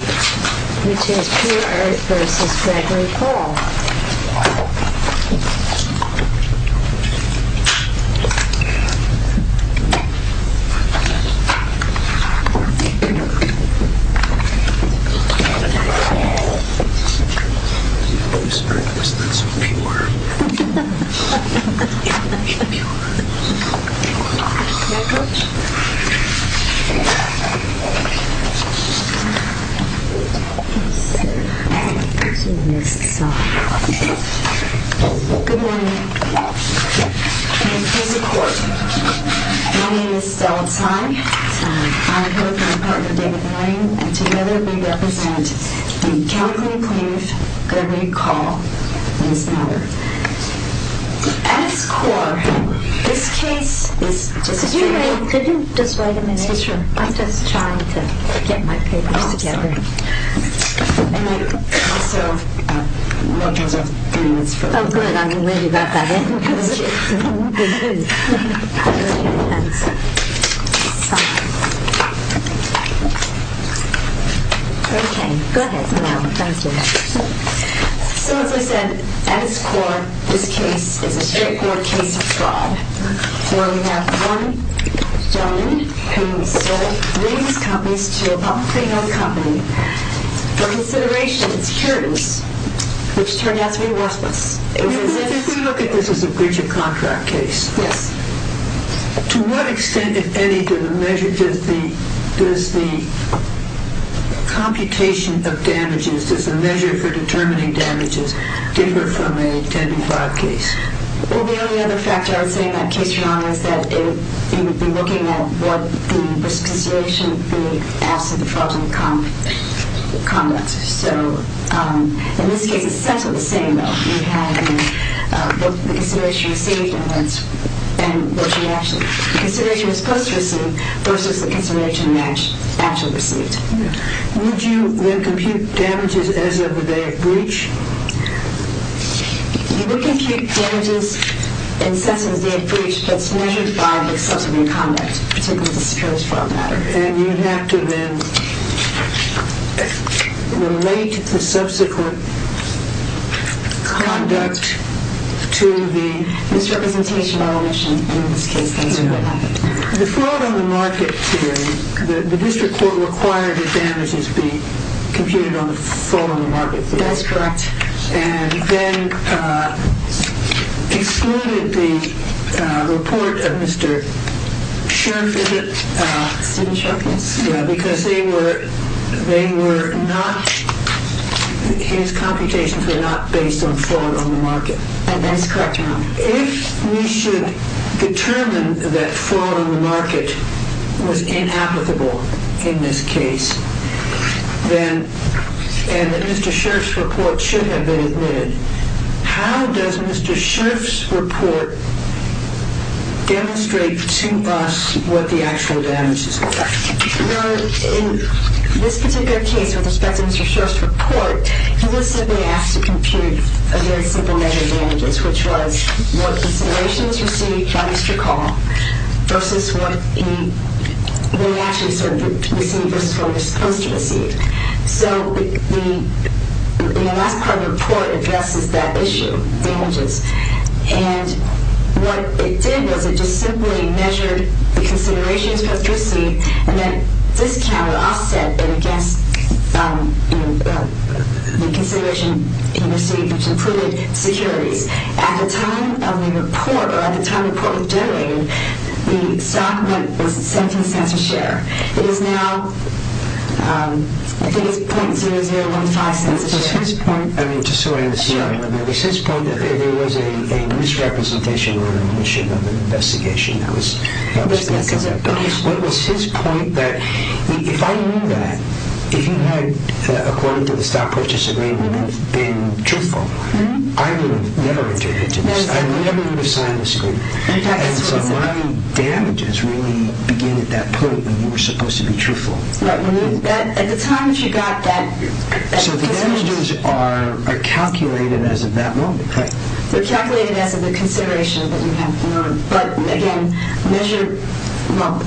Which is Pure Earth v. Gregory Paul Good morning. My name is Stella Tsai. I'm here with my partner David Moran and together we represent the Calvary Plain of Gregory Call in this matter. At its core, this case is... Could you just wait a minute? I'm just trying to get my papers together. And also, we'll just have three minutes for... Oh good, I'm ready about that. Okay, go ahead. Thank you. So as I said, at its core, this case is a straight forward case of fraud. Where we have one gentleman who sold these companies to a publicly known company for consideration securities, which turned out to be worthless. If we look at this as a breach of contract case... Yes. To what extent, if any, does the computation of damages, does the measure for determining damages, differ from a 10 to 5 case? Well, the only other factor I would say in that case, Your Honor, is that you would be looking at what the risk consideration would be as to the fraudulent conduct. So, in this case, it's essentially the same though. You have the consideration received and what you actually... The consideration that's post-received versus the consideration that's actually received. Would you then compute damages as of the day of breach? You would compute damages in the sense of the day of breach, but it's measured by the subsequent conduct. And you would have to then relate the subsequent conduct to the misrepresentation by omission in this case. The fraud on the market theory, the district court required the damages be computed on the fraud on the market theory. That's correct. And then excluded the report of Mr. Scherff, is it? Scherff, yes. Yeah, because they were not, his computations were not based on fraud on the market. That's correct, Your Honor. If we should determine that fraud on the market was inapplicable in this case, and that Mr. Scherff's report should have been admitted, how does Mr. Scherff's report demonstrate to us what the actual damages are? Your Honor, in this particular case with respect to Mr. Scherff's report, he was simply asked to compute a very simple measure of damages, which was what considerations received by Mr. Call versus what he actually received versus what he was supposed to receive. So the last part of the report addresses that issue, damages. And what it did was it just simply measured the considerations he received, and then this count would offset it against the consideration he received, which included securities. At the time of the report, or at the time the report was generated, the stock was 17 cents a share. It is now, I think it's .0015 cents a share. Just so I understand, was his point that there was a misrepresentation or omission of an investigation that was being conducted? What was his point that if I knew that, if he had, according to the stock purchase agreement, been truthful, I would have never entered into this. I never would have signed this agreement. And so my damages really began at that point when you were supposed to be truthful. At the time that you got that... So the damages are calculated as of that moment, correct? They're calculated as of the consideration that you have. But again, measured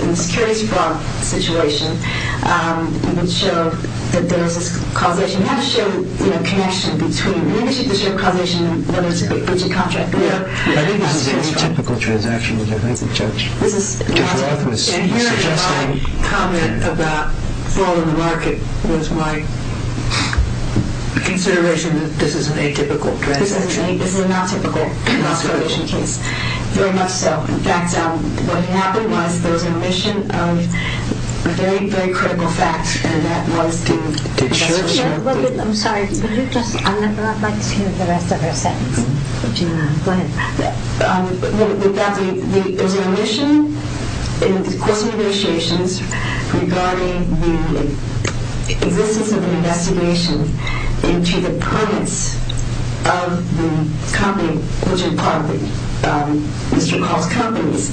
in the securities fraud situation, you can show that there is this causation. You have to show connection between... Maybe you should just show causation and whether it's a contract. I think this is an atypical transaction, which I think Judge Roth was suggesting. My comment about fraud in the market was my consideration that this is an atypical transaction. This is an atypical causation case. Very much so. In fact, what happened was there was an omission of very, very critical facts, and that was to... I'm sorry. Would you just... I'd like to hear the rest of her sentence. Go ahead. There was an omission in the course of negotiations regarding the existence of an investigation into the permits of the company, which are part of Mr. Call's companies.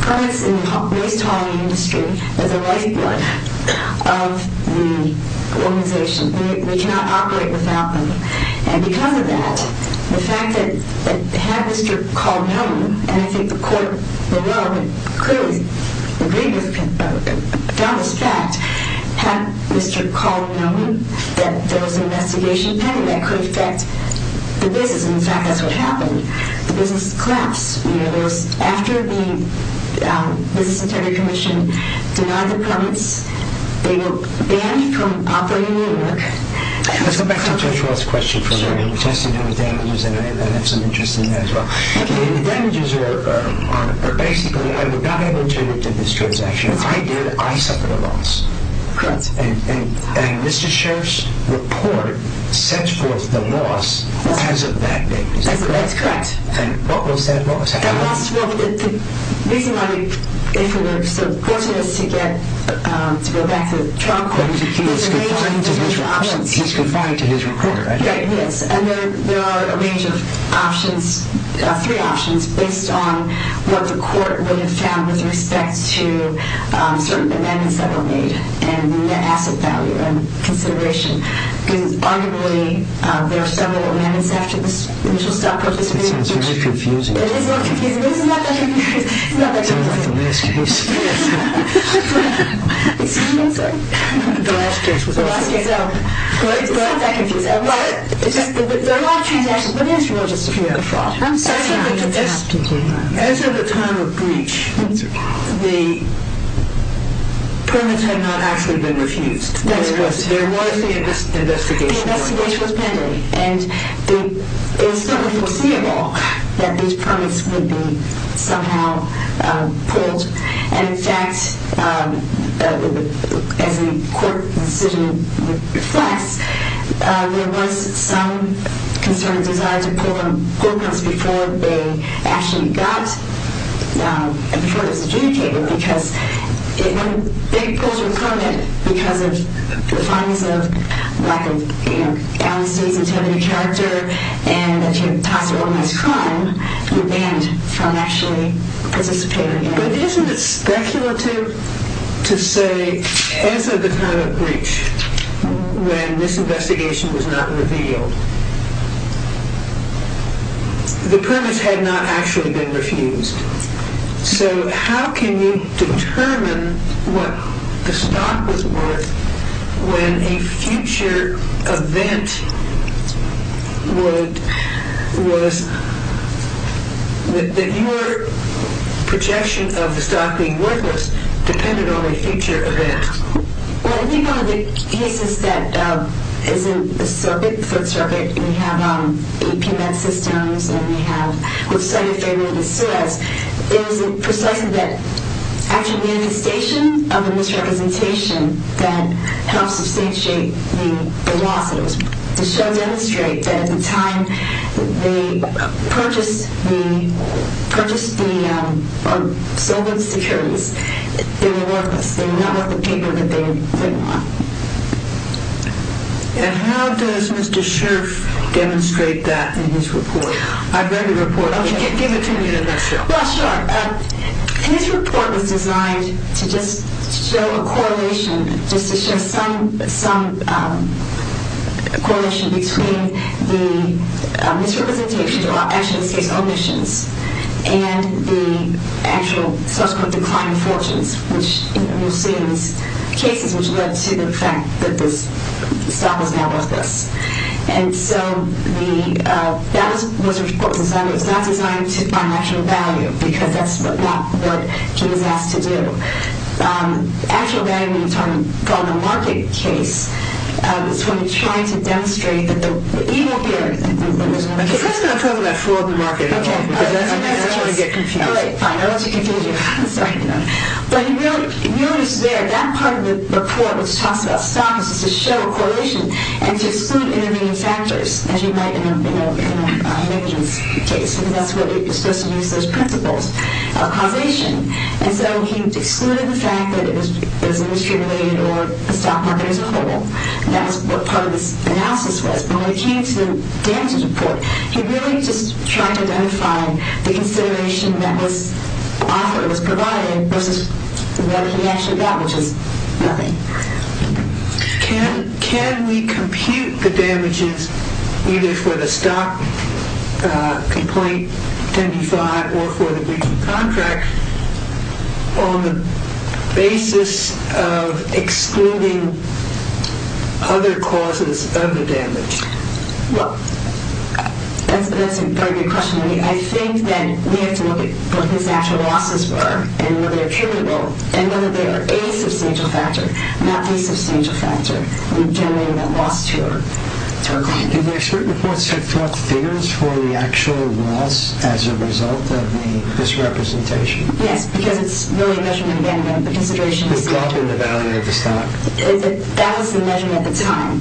Permits in the waste hauling industry are the lifeblood of the organization. We cannot operate without them. And because of that, the fact that had Mr. Call known, and I think the court below would clearly agree with Donald's fact, had Mr. Call known that there was an investigation pending that could affect the business, and in fact that's what happened, the business collapsed. After the business integrity commission denied the permits, they were banned from operating the network. Let's go back to Judge Wells' question for a minute. We've tested the damages, and I have some interest in that as well. Okay. The damages are basically, I would not have been terminated in this transaction. If I did, I suffered a loss. Correct. And Mr. Sheriff's report sets forth the loss because of that business, correct? That's correct. And what was that loss? That loss, well, the reason why we, if we were so fortunate as to get, to go back to the trial court, he's confined to his record, right? Yes, and there are a range of options, three options, based on what the court would have found with respect to certain amendments that were made and the asset value and consideration. Arguably, there are several amendments after this initial stock purchase. That sounds very confusing. It is not confusing. This is not that confusing. It sounds like the last case. Excuse me, I'm sorry. The last case was also confusing. It's not that confusing. There are a lot of transactions, but it is really just a few good frauds. I'm sorry to interrupt. As of the time of breach, the permits had not actually been refused. That's what I'm saying. There was an investigation going on. The investigation was pending, and it was still unforeseeable that these permits would be somehow pulled. And, in fact, as the court decision reflects, there was some concern and desire to pull the permits before they actually got, and before it was adjudicated, because if it pulls your permit because of the fines of lack of honesty, sensitivity, character, and that you've tossed organized crime, you're banned from actually participating in it. But isn't it speculative to say, as of the time of breach, when this investigation was not revealed, the permits had not actually been refused. So how can you determine what the stock was worth when a future event was that your projection of the stock being worthless depended on a future event? Well, if you go to the cases that is in the circuit, third circuit, we have APMET systems, and we have what study favorably says, it was precisely that actual manifestation of the misrepresentation that helped substantiate the loss. It was to show and demonstrate that at the time they purchased the stolen securities, they were worthless. They were not worth the paper that they were putting on. And how does Mr. Scherff demonstrate that in his report? I've read the report. Give it to me in a nutshell. Well, sure. And this report was designed to just show a correlation, just to show some correlation between the misrepresentation, or actually in this case, omissions, and the actual subsequent decline in fortunes, which you'll see in these cases, which led to the fact that the stock was now worthless. And so that was what was designed. It was not designed to find actual value, because that's not what he was asked to do. Actual value, in a market case, is when you're trying to demonstrate that even here, I'm just going to throw in that fraud in the market, because I don't want to get confused. Fine, I don't want to confuse you. But you notice there, that part of the report, which talks about stock, is just to show a correlation and to exclude intervening factors, as you might in a negligence case, because that's what you're supposed to use as principles of causation. And so he excluded the fact that it was indiscriminate or the stock market as a whole, and that was what part of this analysis was. But when it came to Dan's report, he really just tried to identify the consideration that his author was providing versus what he actually got, which is nothing. Can we compute the damages, either for the stock complaint, 10D5, or for the breach of contract, on the basis of excluding other causes of the damage? Well, that's a very good question. I think that we have to look at what his actual losses were and whether they're attributable, and whether they are a substantial factor, not the substantial factor, in generating the loss to our client. Did the expert reports have thought figures for the actual loss as a result of the misrepresentation? Yes, because it's really a measurement, again, of the consideration of the stock. The drop in the value of the stock. That was the measurement at the time.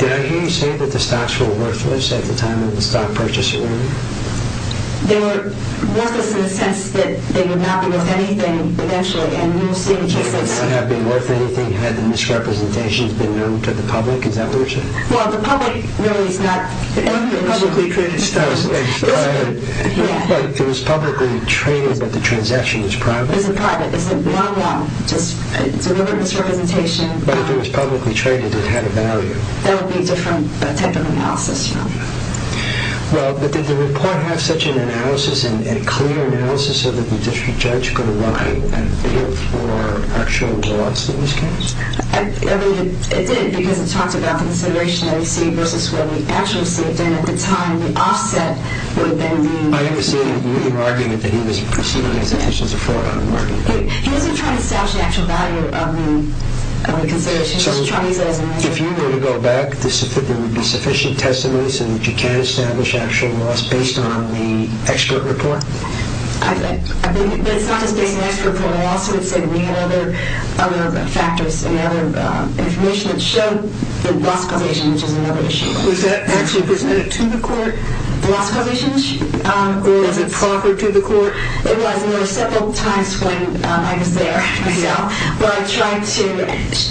Did I hear you say that the stocks were worthless at the time of the stock purchase? They were worthless in the sense that they would not be worth anything eventually, and you'll see in just a second. They would not have been worth anything had the misrepresentations been known to the public, is that what you're saying? Well, the public really is not... The publicly traded stock is private. It was publicly traded, but the transaction was private. It's private. It's a one-one. It's a misrepresentation. But if it was publicly traded, it had a value. That would be a different type of analysis, you know. Well, but did the report have such an analysis, a clear analysis, so that the district judge could write a figure for actual loss in this case? I believe it did, because it talked about the consideration that he received versus what he actually received. And at the time, the offset would have been the... I understand your argument that he was proceeding as a case of fraud on the market. He wasn't trying to establish the actual value of the consideration. So if you were to go back, there would be sufficient testimony so that you can establish actual loss based on the expert report? I believe... But it's not just based on the expert report. I also would say we had other factors and other information that showed the loss causation, which is another issue. Was that actually presented to the court, the loss causation? Or was it proffered to the court? It was, and there were several times when I was there myself where I tried to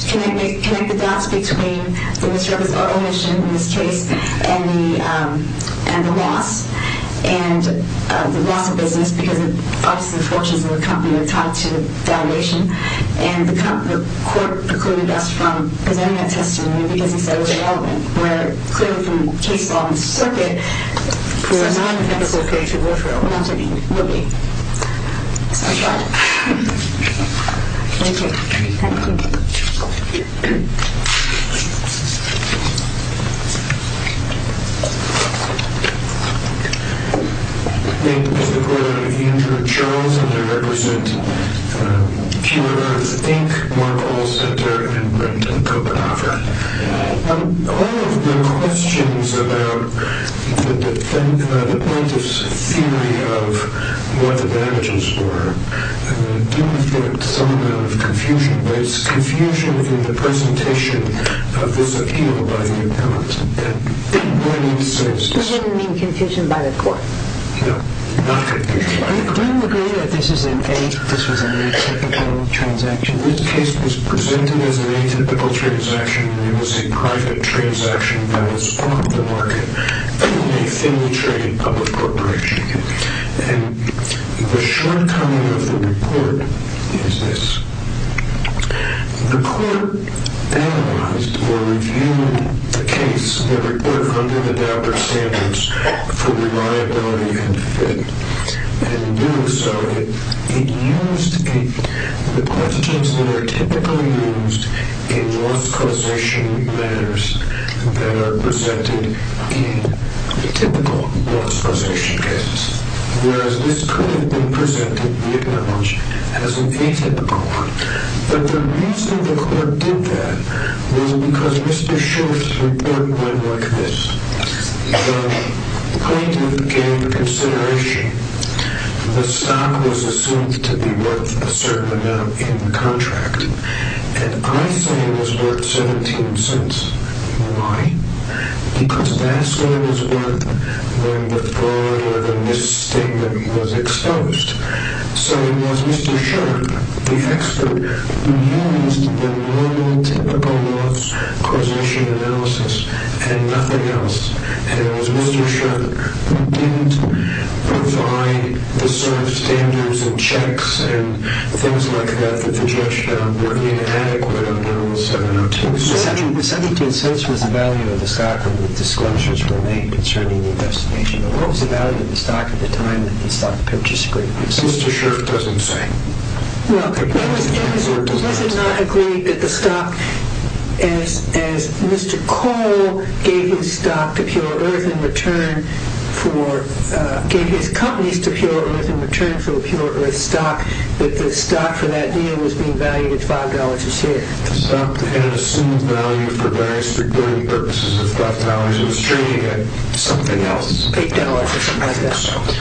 connect the dots between the misservice or omission in this case and the loss, and the loss of business because, obviously, the fortunes of the company are tied to valuation. And the court precluded us from presenting that testimony because he said it was irrelevant, where, clearly, from the case law in the circuit, there's not an effect associated with it. We're not taking it. So I tried. Thank you. Thank you. Thank you. My name is Mr. Gordon Andrew Charles, and I represent Cure, Think, Mark Hall Center in Brenton, Copenhagen. All of your questions about the plaintiff's theory of what the damages were do reflect some amount of confusion, but it's confusion in the presentation of this appeal by the appellant. Do you mean confusion by the court? No, not confusion by the court. Do you agree that this was an atypical transaction? This case was presented as an atypical transaction, and it was a private transaction that was part of the market in a family trade public corporation. And the shortcoming of the report is this. The court analyzed or reviewed the case, the report of undue-adapted standards for reliability and fit, and in doing so, it used the questions that are typically used in loss causation matters that are presented in typical loss causation cases. Whereas this could have been presented, we acknowledge, as an atypical one. But the reason the court did that was because Mr. Schultz's report went like this. The plaintiff gave consideration. The stock was assumed to be worth a certain amount in the contract, and I say it was worth 17 cents. Why? Because that's what it was worth when the fraud or the misstatement was exposed. So it was Mr. Schultz, the expert, who used the normal, typical loss causation analysis and nothing else. And it was Mr. Schultz who didn't provide the sort of standards and checks and things like that that the judge found worthy and adequate The 17 cents was the value of the stock when the disclosures were made concerning the investigation. It was the value of the stock at the time that the stock purchase agreement was signed. Mr. Schultz doesn't say. Well, does it not agree that the stock, as Mr. Cole gave his stock to Pure Earth in return for, gave his companies to Pure Earth in return for the Pure Earth stock, that the stock for that deal was being valued at $5 a share? The stock had assumed value for various security purposes of $5. It was trading at something else, $8 or something like that.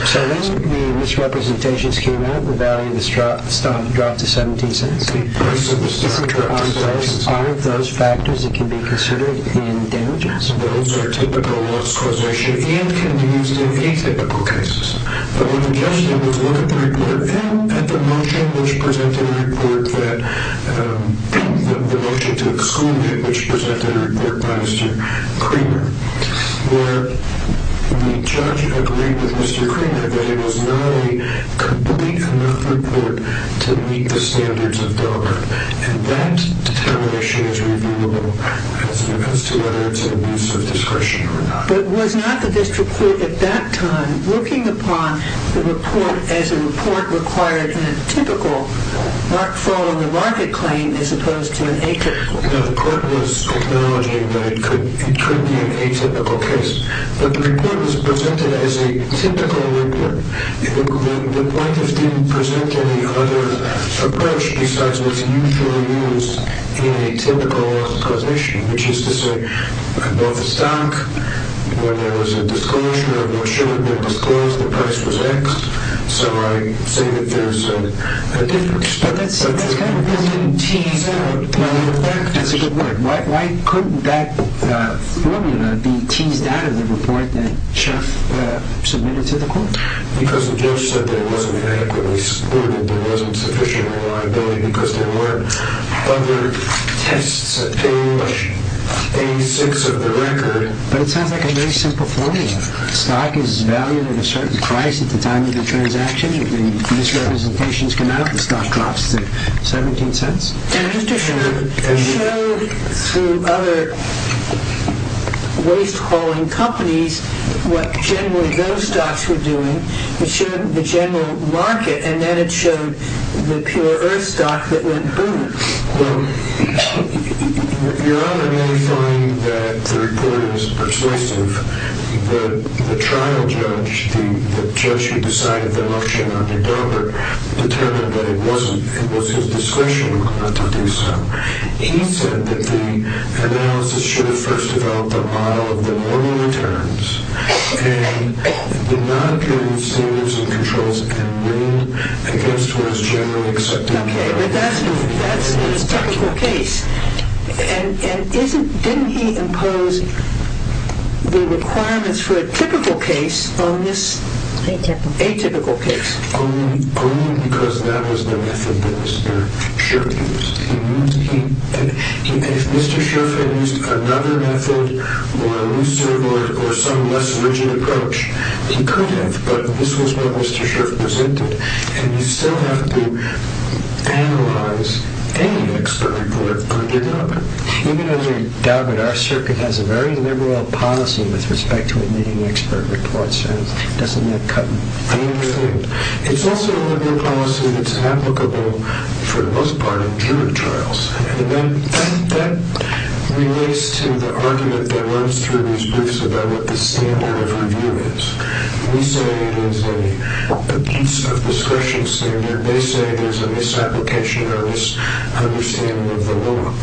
So when the misrepresentations came out, the value of the stock dropped to 17 cents. The price of the stock dropped to 17 cents. Are those factors that can be considered in damages? Those are typical loss causation and can be used in atypical cases. But what the judge did was look at the report that the motion to exclude it, which presented a report by Mr. Creamer, where the judge agreed with Mr. Creamer that it was not a complete enough report to meet the standards of Delaware. And that determination is reviewable as it depends on whether it's in use of discretion or not. But was not the district court at that time looking upon the report as a report required in a typical mark fall on the market claim as opposed to an atypical case? No, the court was acknowledging that it could be an atypical case. But the report was presented as a typical report. The plaintiffs didn't present any other approach besides what's usually used in a typical loss causation, which is to say, I bought the stock. When there was a disclosure, I'm not sure it was disclosed, the price was X. So I say that there's a difference. But that's kind of a brilliant tease. That's a good word. Why couldn't that formula be teased out of the report that Jeff submitted to the court? Because the judge said there wasn't adequately excluded, there wasn't sufficient reliability because there weren't other tests at page 86 of the record. But it sounds like a very simple formula. The stock is valued at a certain price at the time of the transaction. If the misrepresentations come out, the stock drops to $0.17. And it showed through other waste hauling companies what generally those stocks were doing. It showed the general market, and then it showed the pure earth stock that went boom. Your Honor may find that the report is persuasive. The trial judge, the judge who decided the auction on the government, determined that it was his discretion not to do so. He said that the analysis should have first developed a model of the normal returns and the non-pure receivables and controls and win against what is generally accepted. Okay, but that's the historical case. And didn't he impose the requirements for a typical case on this atypical case? Only because that was the method that Mr. Scherff used. If Mr. Scherff had used another method or some less rigid approach, he could have. But this was what Mr. Scherff presented. And you still have to analyze any expert report from the government. Even as a government, our circuit has a very liberal policy with respect to admitting expert reports, and doesn't that cut everything? It's also a liberal policy that's applicable for the most part in jury trials. And then that relates to the argument that runs through these briefs about what the standard of review is. We say it is a piece of discretion standard. They say there's a misapplication or a misunderstanding of the law.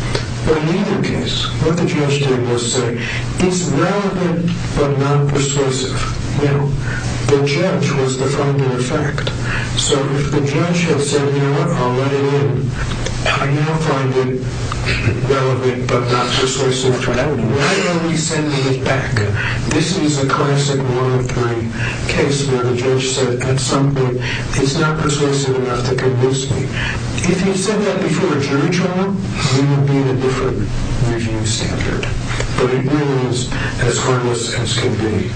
But in either case, what the judge did was say, it's relevant but not persuasive. You know, the judge was the final effect. So if the judge has said, you know what, I'll let it in. I now find it relevant but not persuasive. Why don't we send it back? This is a classic one-of-three case where the judge said, at some point, it's not persuasive enough to convince me. If you said that before a jury trial, we would need a different review standard. But it really is as harmless as can be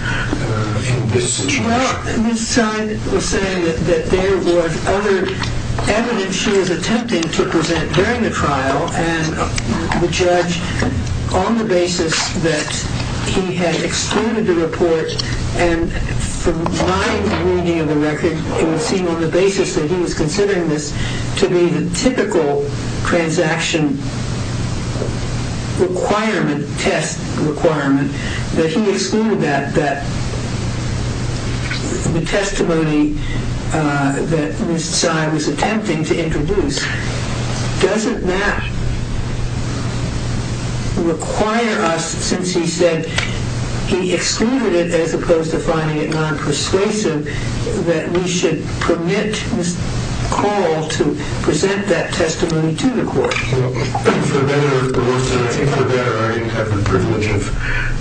in this situation. Well, Ms. Tsai was saying that there was other evidence she was attempting to present during the trial, and the judge, on the basis that he had excluded the report, and from my reading of the record, it would seem on the basis that he was considering this to be the typical transaction requirement, test requirement, that he excluded that, that the testimony that Ms. Tsai was attempting to introduce doesn't now require us, since he said he excluded it as opposed to finding it non-persuasive, that we should permit this call to present that testimony to the court. For better or for worse, and I think for better, I didn't have the privilege of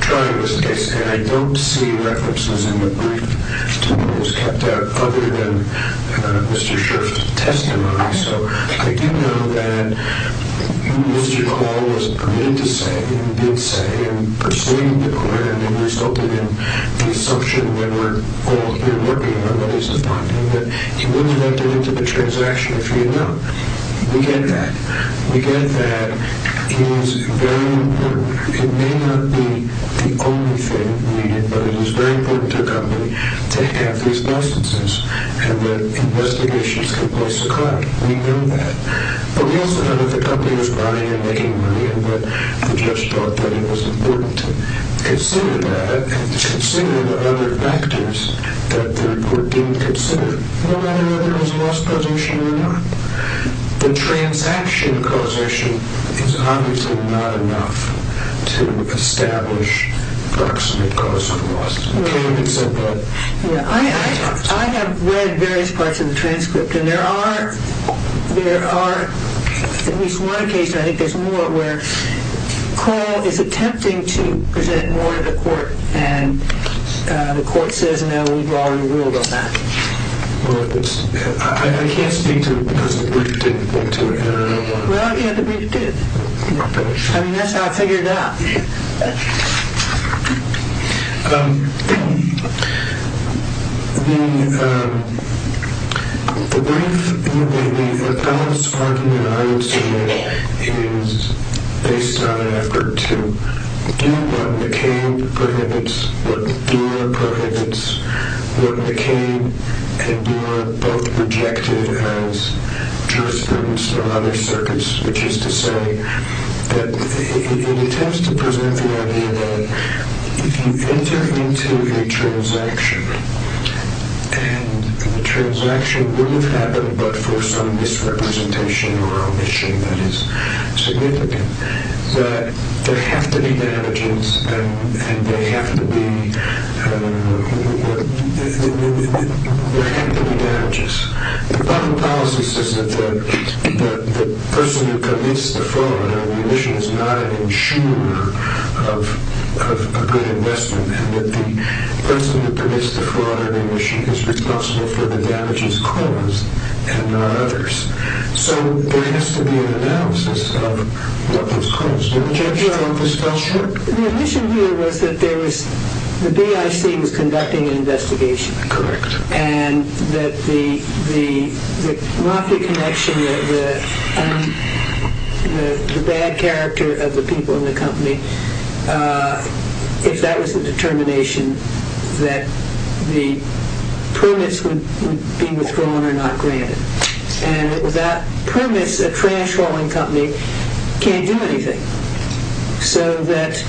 trying this case, and I don't see references in the brief to what was kept out other than Mr. Scherff's testimony. So I do know that Mr. Hall was permitted to say, and did say, and persuaded the court, and it resulted in the assumption that we're all here working on what is defined, and that he was elected into the transaction, if you know. We get that. We get that he was very important. It may not be the only thing needed, but it was very important to the company to have these licenses, and that investigations can place a claim. We know that. But we also know that the company was buying and making money, and that the judge thought that it was important to consider that and consider the other factors that the court didn't consider, no matter whether it was a loss causation or not. The transaction causation is obviously not enough to establish proximate cause of loss. I have read various parts of the transcript, and there are at least one case, and I think there's more, where Cole is attempting to present more to the court, and the court says, no, we've already ruled on that. I can't speak to it because the brief didn't get to it. Well, yeah, the brief did. I mean, that's how I figured it out. The brief, or the appellate's argument, I would say, is based on an effort to do what McCabe prohibits, what Durer prohibits, what McCabe and Durer both rejected as jurisprudence from other circuits, which is to say that it attempts to present the idea that if you've entered into a transaction and the transaction will have happened but for some misrepresentation or omission that is significant, that there have to be damages, and there have to be, I don't know, there have to be damages. The public policy says that the person who commits the fraud or the omission is not an insurer of a good investment and that the person who commits the fraud or the omission is responsible for the damages caused and not others. So there has to be an analysis of what was caused. Well, Judge, I hope this fell short. The omission here was that there was, the BIC was conducting an investigation. Correct. And that the mockery connection, the bad character of the people in the company, if that was the determination, that the premise would be withdrawn or not granted. And that premise, a trash hauling company can't do anything. So that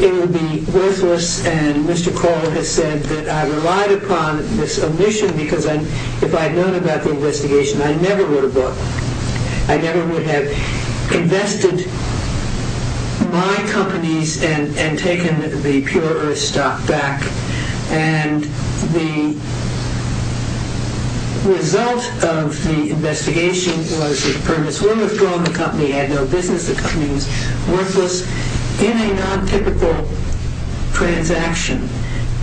it would be worthless, and Mr. Kohl has said that I relied upon this omission because if I had known about the investigation, I never would have bought, I never would have invested my companies and taken the pure earth stock back. And the result of the investigation was that the premise would have withdrawn, the company had no business, the company was worthless in a non-typical transaction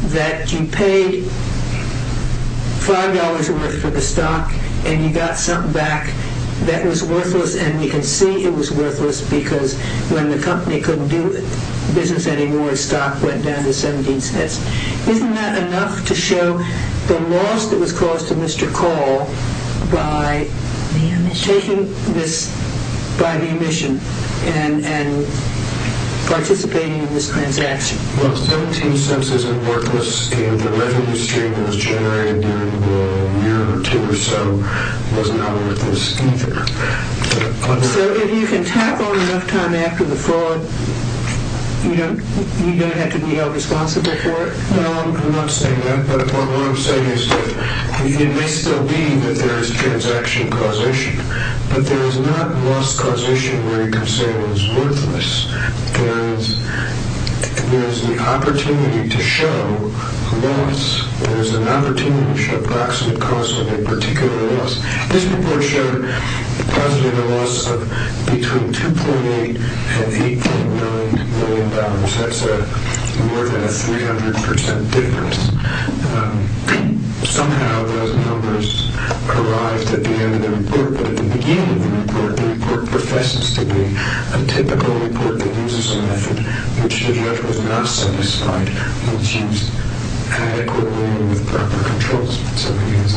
that you paid $5 worth for the stock and you got something back that was worthless and you can see it was worthless because when the company couldn't do business anymore, the stock went down to 17 cents. Isn't that enough to show the loss that was caused to Mr. Kohl by taking this by the omission and participating in this transaction? Well, 17 cents isn't worthless and the revenue stream that was generated during the year or two or so was not worthless either. So if you can tackle enough time after the fraud, you don't have to be held responsible for it? No, I'm not saying that, but what I'm saying is that it may still be that there is transaction causation, but there is not loss causation where you can say it was worthless. There is the opportunity to show loss, there is an opportunity to show approximate cost of a particular loss. This report showed a loss of between $2.8 and $8.9 million. That's more than a 300% difference. Somehow those numbers arrived at the end of the report, but at the beginning of the report, the report professes to be a typical report that uses a method which, if it was not satisfied, it was used adequately and with proper controls. So it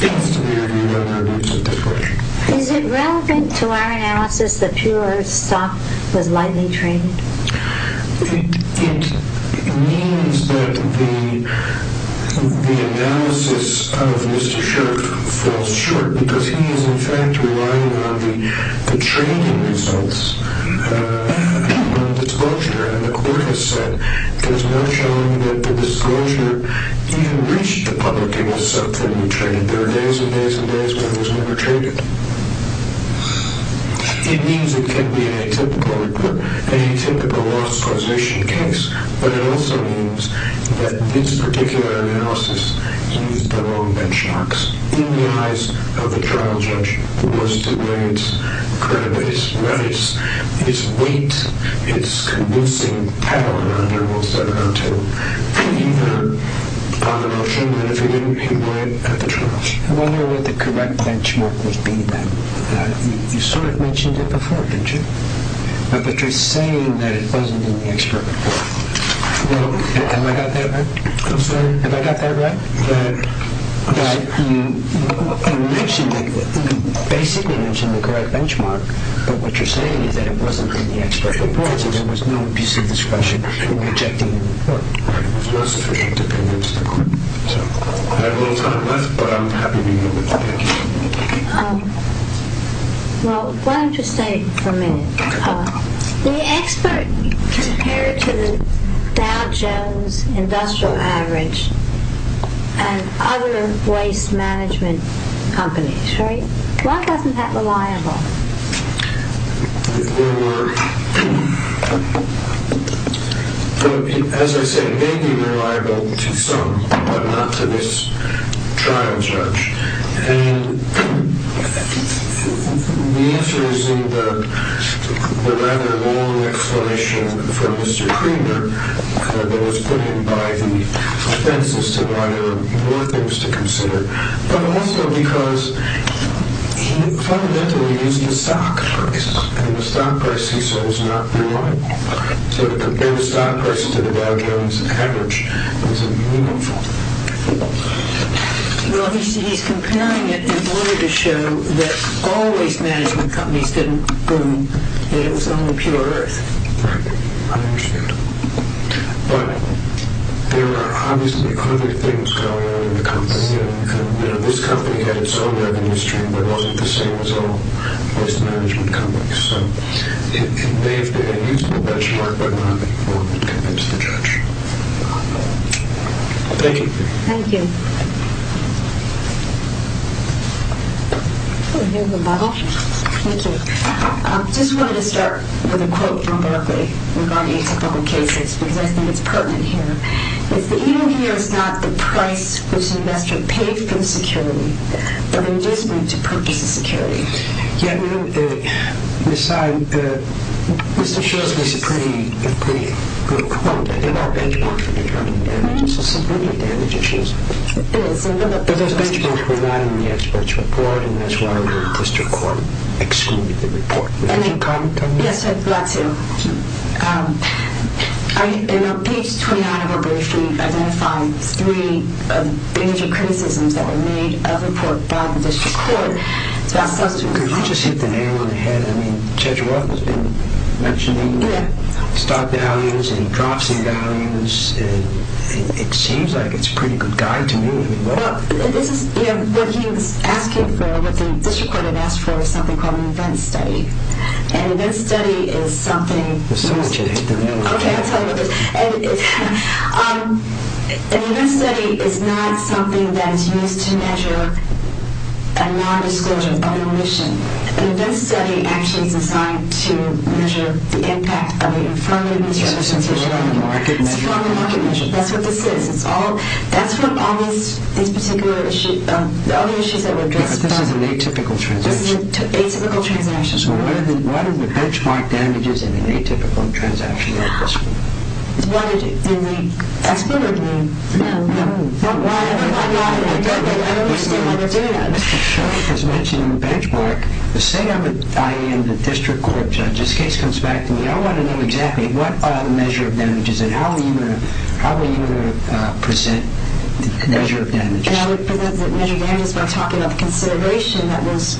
seems to me that there is a difference. Is it relevant to our analysis that pure stock was lightly traded? It means that the analysis of Mr. Sharpe falls short because he is, in fact, relying on the trading results of the disclosure. And the court has said there is no showing that the disclosure even reached the public in a sub-family trade. And there are days and days and days when it was never traded. It means it can be a typical loss causation case, but it also means that this particular analysis used the wrong benchmarks in the eyes of the trial judge who was to weigh its weight, its convincing power under Rule 702, on the notion that if it didn't, it wouldn't at the trial. I wonder what the correct benchmark would be then. You sort of mentioned it before, didn't you? But you're saying that it wasn't in the expert report. Have I got that right? I'm sorry? Have I got that right? That you basically mentioned the correct benchmark, but what you're saying is that it wasn't in the expert report, so there was no piece of discretion in rejecting the independent statement. I have a little time left, but I'm happy to move it. Thank you. Well, why don't you stay for a minute? The expert compared to the Dow Jones Industrial Average and other waste management companies, right? Why wasn't that reliable? As I said, it may be reliable to some, but not to this trial judge. And the answer is in the rather long explanation from Mr. Creamer that was put in by the defenses to why there were more things to consider, but also because he fundamentally used the stock price, and the stock price he saw was not reliable. So to compare the stock price to the Dow Jones Average was a meaningful thing. Well, he's comparing it in order to show that all waste management companies didn't prove that it was only pure earth. Right. I understand. But there are obviously other things going on in the company. This company had its own revenue stream, but wasn't the same as all waste management companies. So it may have been a useful benchmark, but not in order to convince the judge. Thank you. Thank you. Oh, here's a bubble. Thank you. I just wanted to start with a quote from Barclay regarding typical cases, because I think it's pertinent here. It's that even here it's not the price which an investor paid for the security, but the reason to purchase the security. Yeah, I mean, aside, Mr. Shoresley's a pretty good quote. I think our benchmark for determining damage is subliminal damage issues. It is. But those benchmarks were not in the expert's report, and that's why the district court excluded the report. Did you have a comment on that? Yes, I'd like to. In page 29 of our brief, we've identified three of the major criticisms that were made of the report by the district court. Could you just hit the nail on the head? I mean, Judge Roth has been mentioning stock values and drops in values, and it seems like it's a pretty good guide to me. Well, what he was asking for, what the district court had asked for, is something called an event study. An event study is something that is used to measure a non-disclosure of omission. An event study actually is designed to measure the impact of the infirmary It's still on the market measure. It's still on the market measure. That's what this is. That's what all these particular issues, the only issues that were addressed. This is an atypical transaction. This is an atypical transaction. So what are the benchmark damages in an atypical transaction like this one? In the expert review? No. No. Why not? I don't understand why they're doing that. Mr. Shoresley has mentioned the benchmark. Say I am the district court judge. This case comes back to me. I want to know exactly what are the measure of damages and how are you going to present the measure of damages? I would present the measure of damages by talking about the consideration that was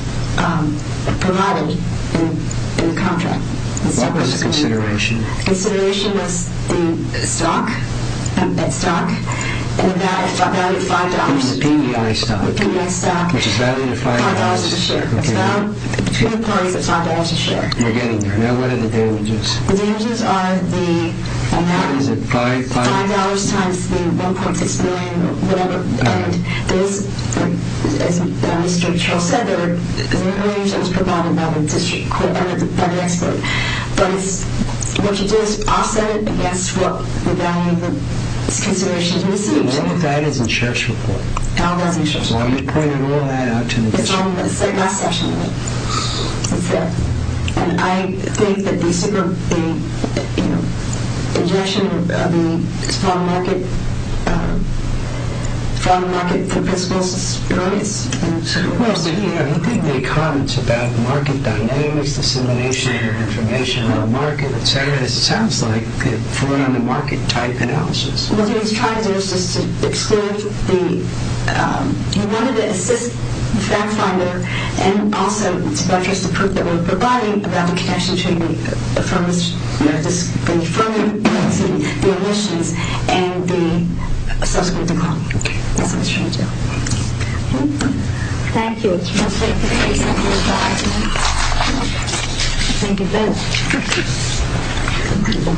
provided in the contract. What was the consideration? The consideration was the stock, the stock, and the value of $5. The PEI stock. PEI stock. Which is value of $5. $5 a share. It's value between the parties of $5 a share. We're getting there. Do you know what are the damages? The damages are the amount of $5 times the $1.6 million or whatever. And as Mr. Charles said, there was an information that was provided by the district court, by the expert. But what you do is offset it against what the value of the consideration received. All of that is in Sheriff's report. All of that is in Sheriff's report. So I'm going to point all of that out to the district court. It's all in the last section. Okay. And I think that the suggestion of the fraud market, fraud market for fiscal surprise. Well, I think the comments about market dynamics, dissemination, information on the market, et cetera, it sounds like fraud on the market type analysis. What he's trying to do is just to exclude the – and also to reference the proof that we're providing about the connection between the firm's – the firm's emissions and the subsequent decline. That's what he's trying to do. Okay. Thank you. Thank you. Thank you. Thank you, Ben.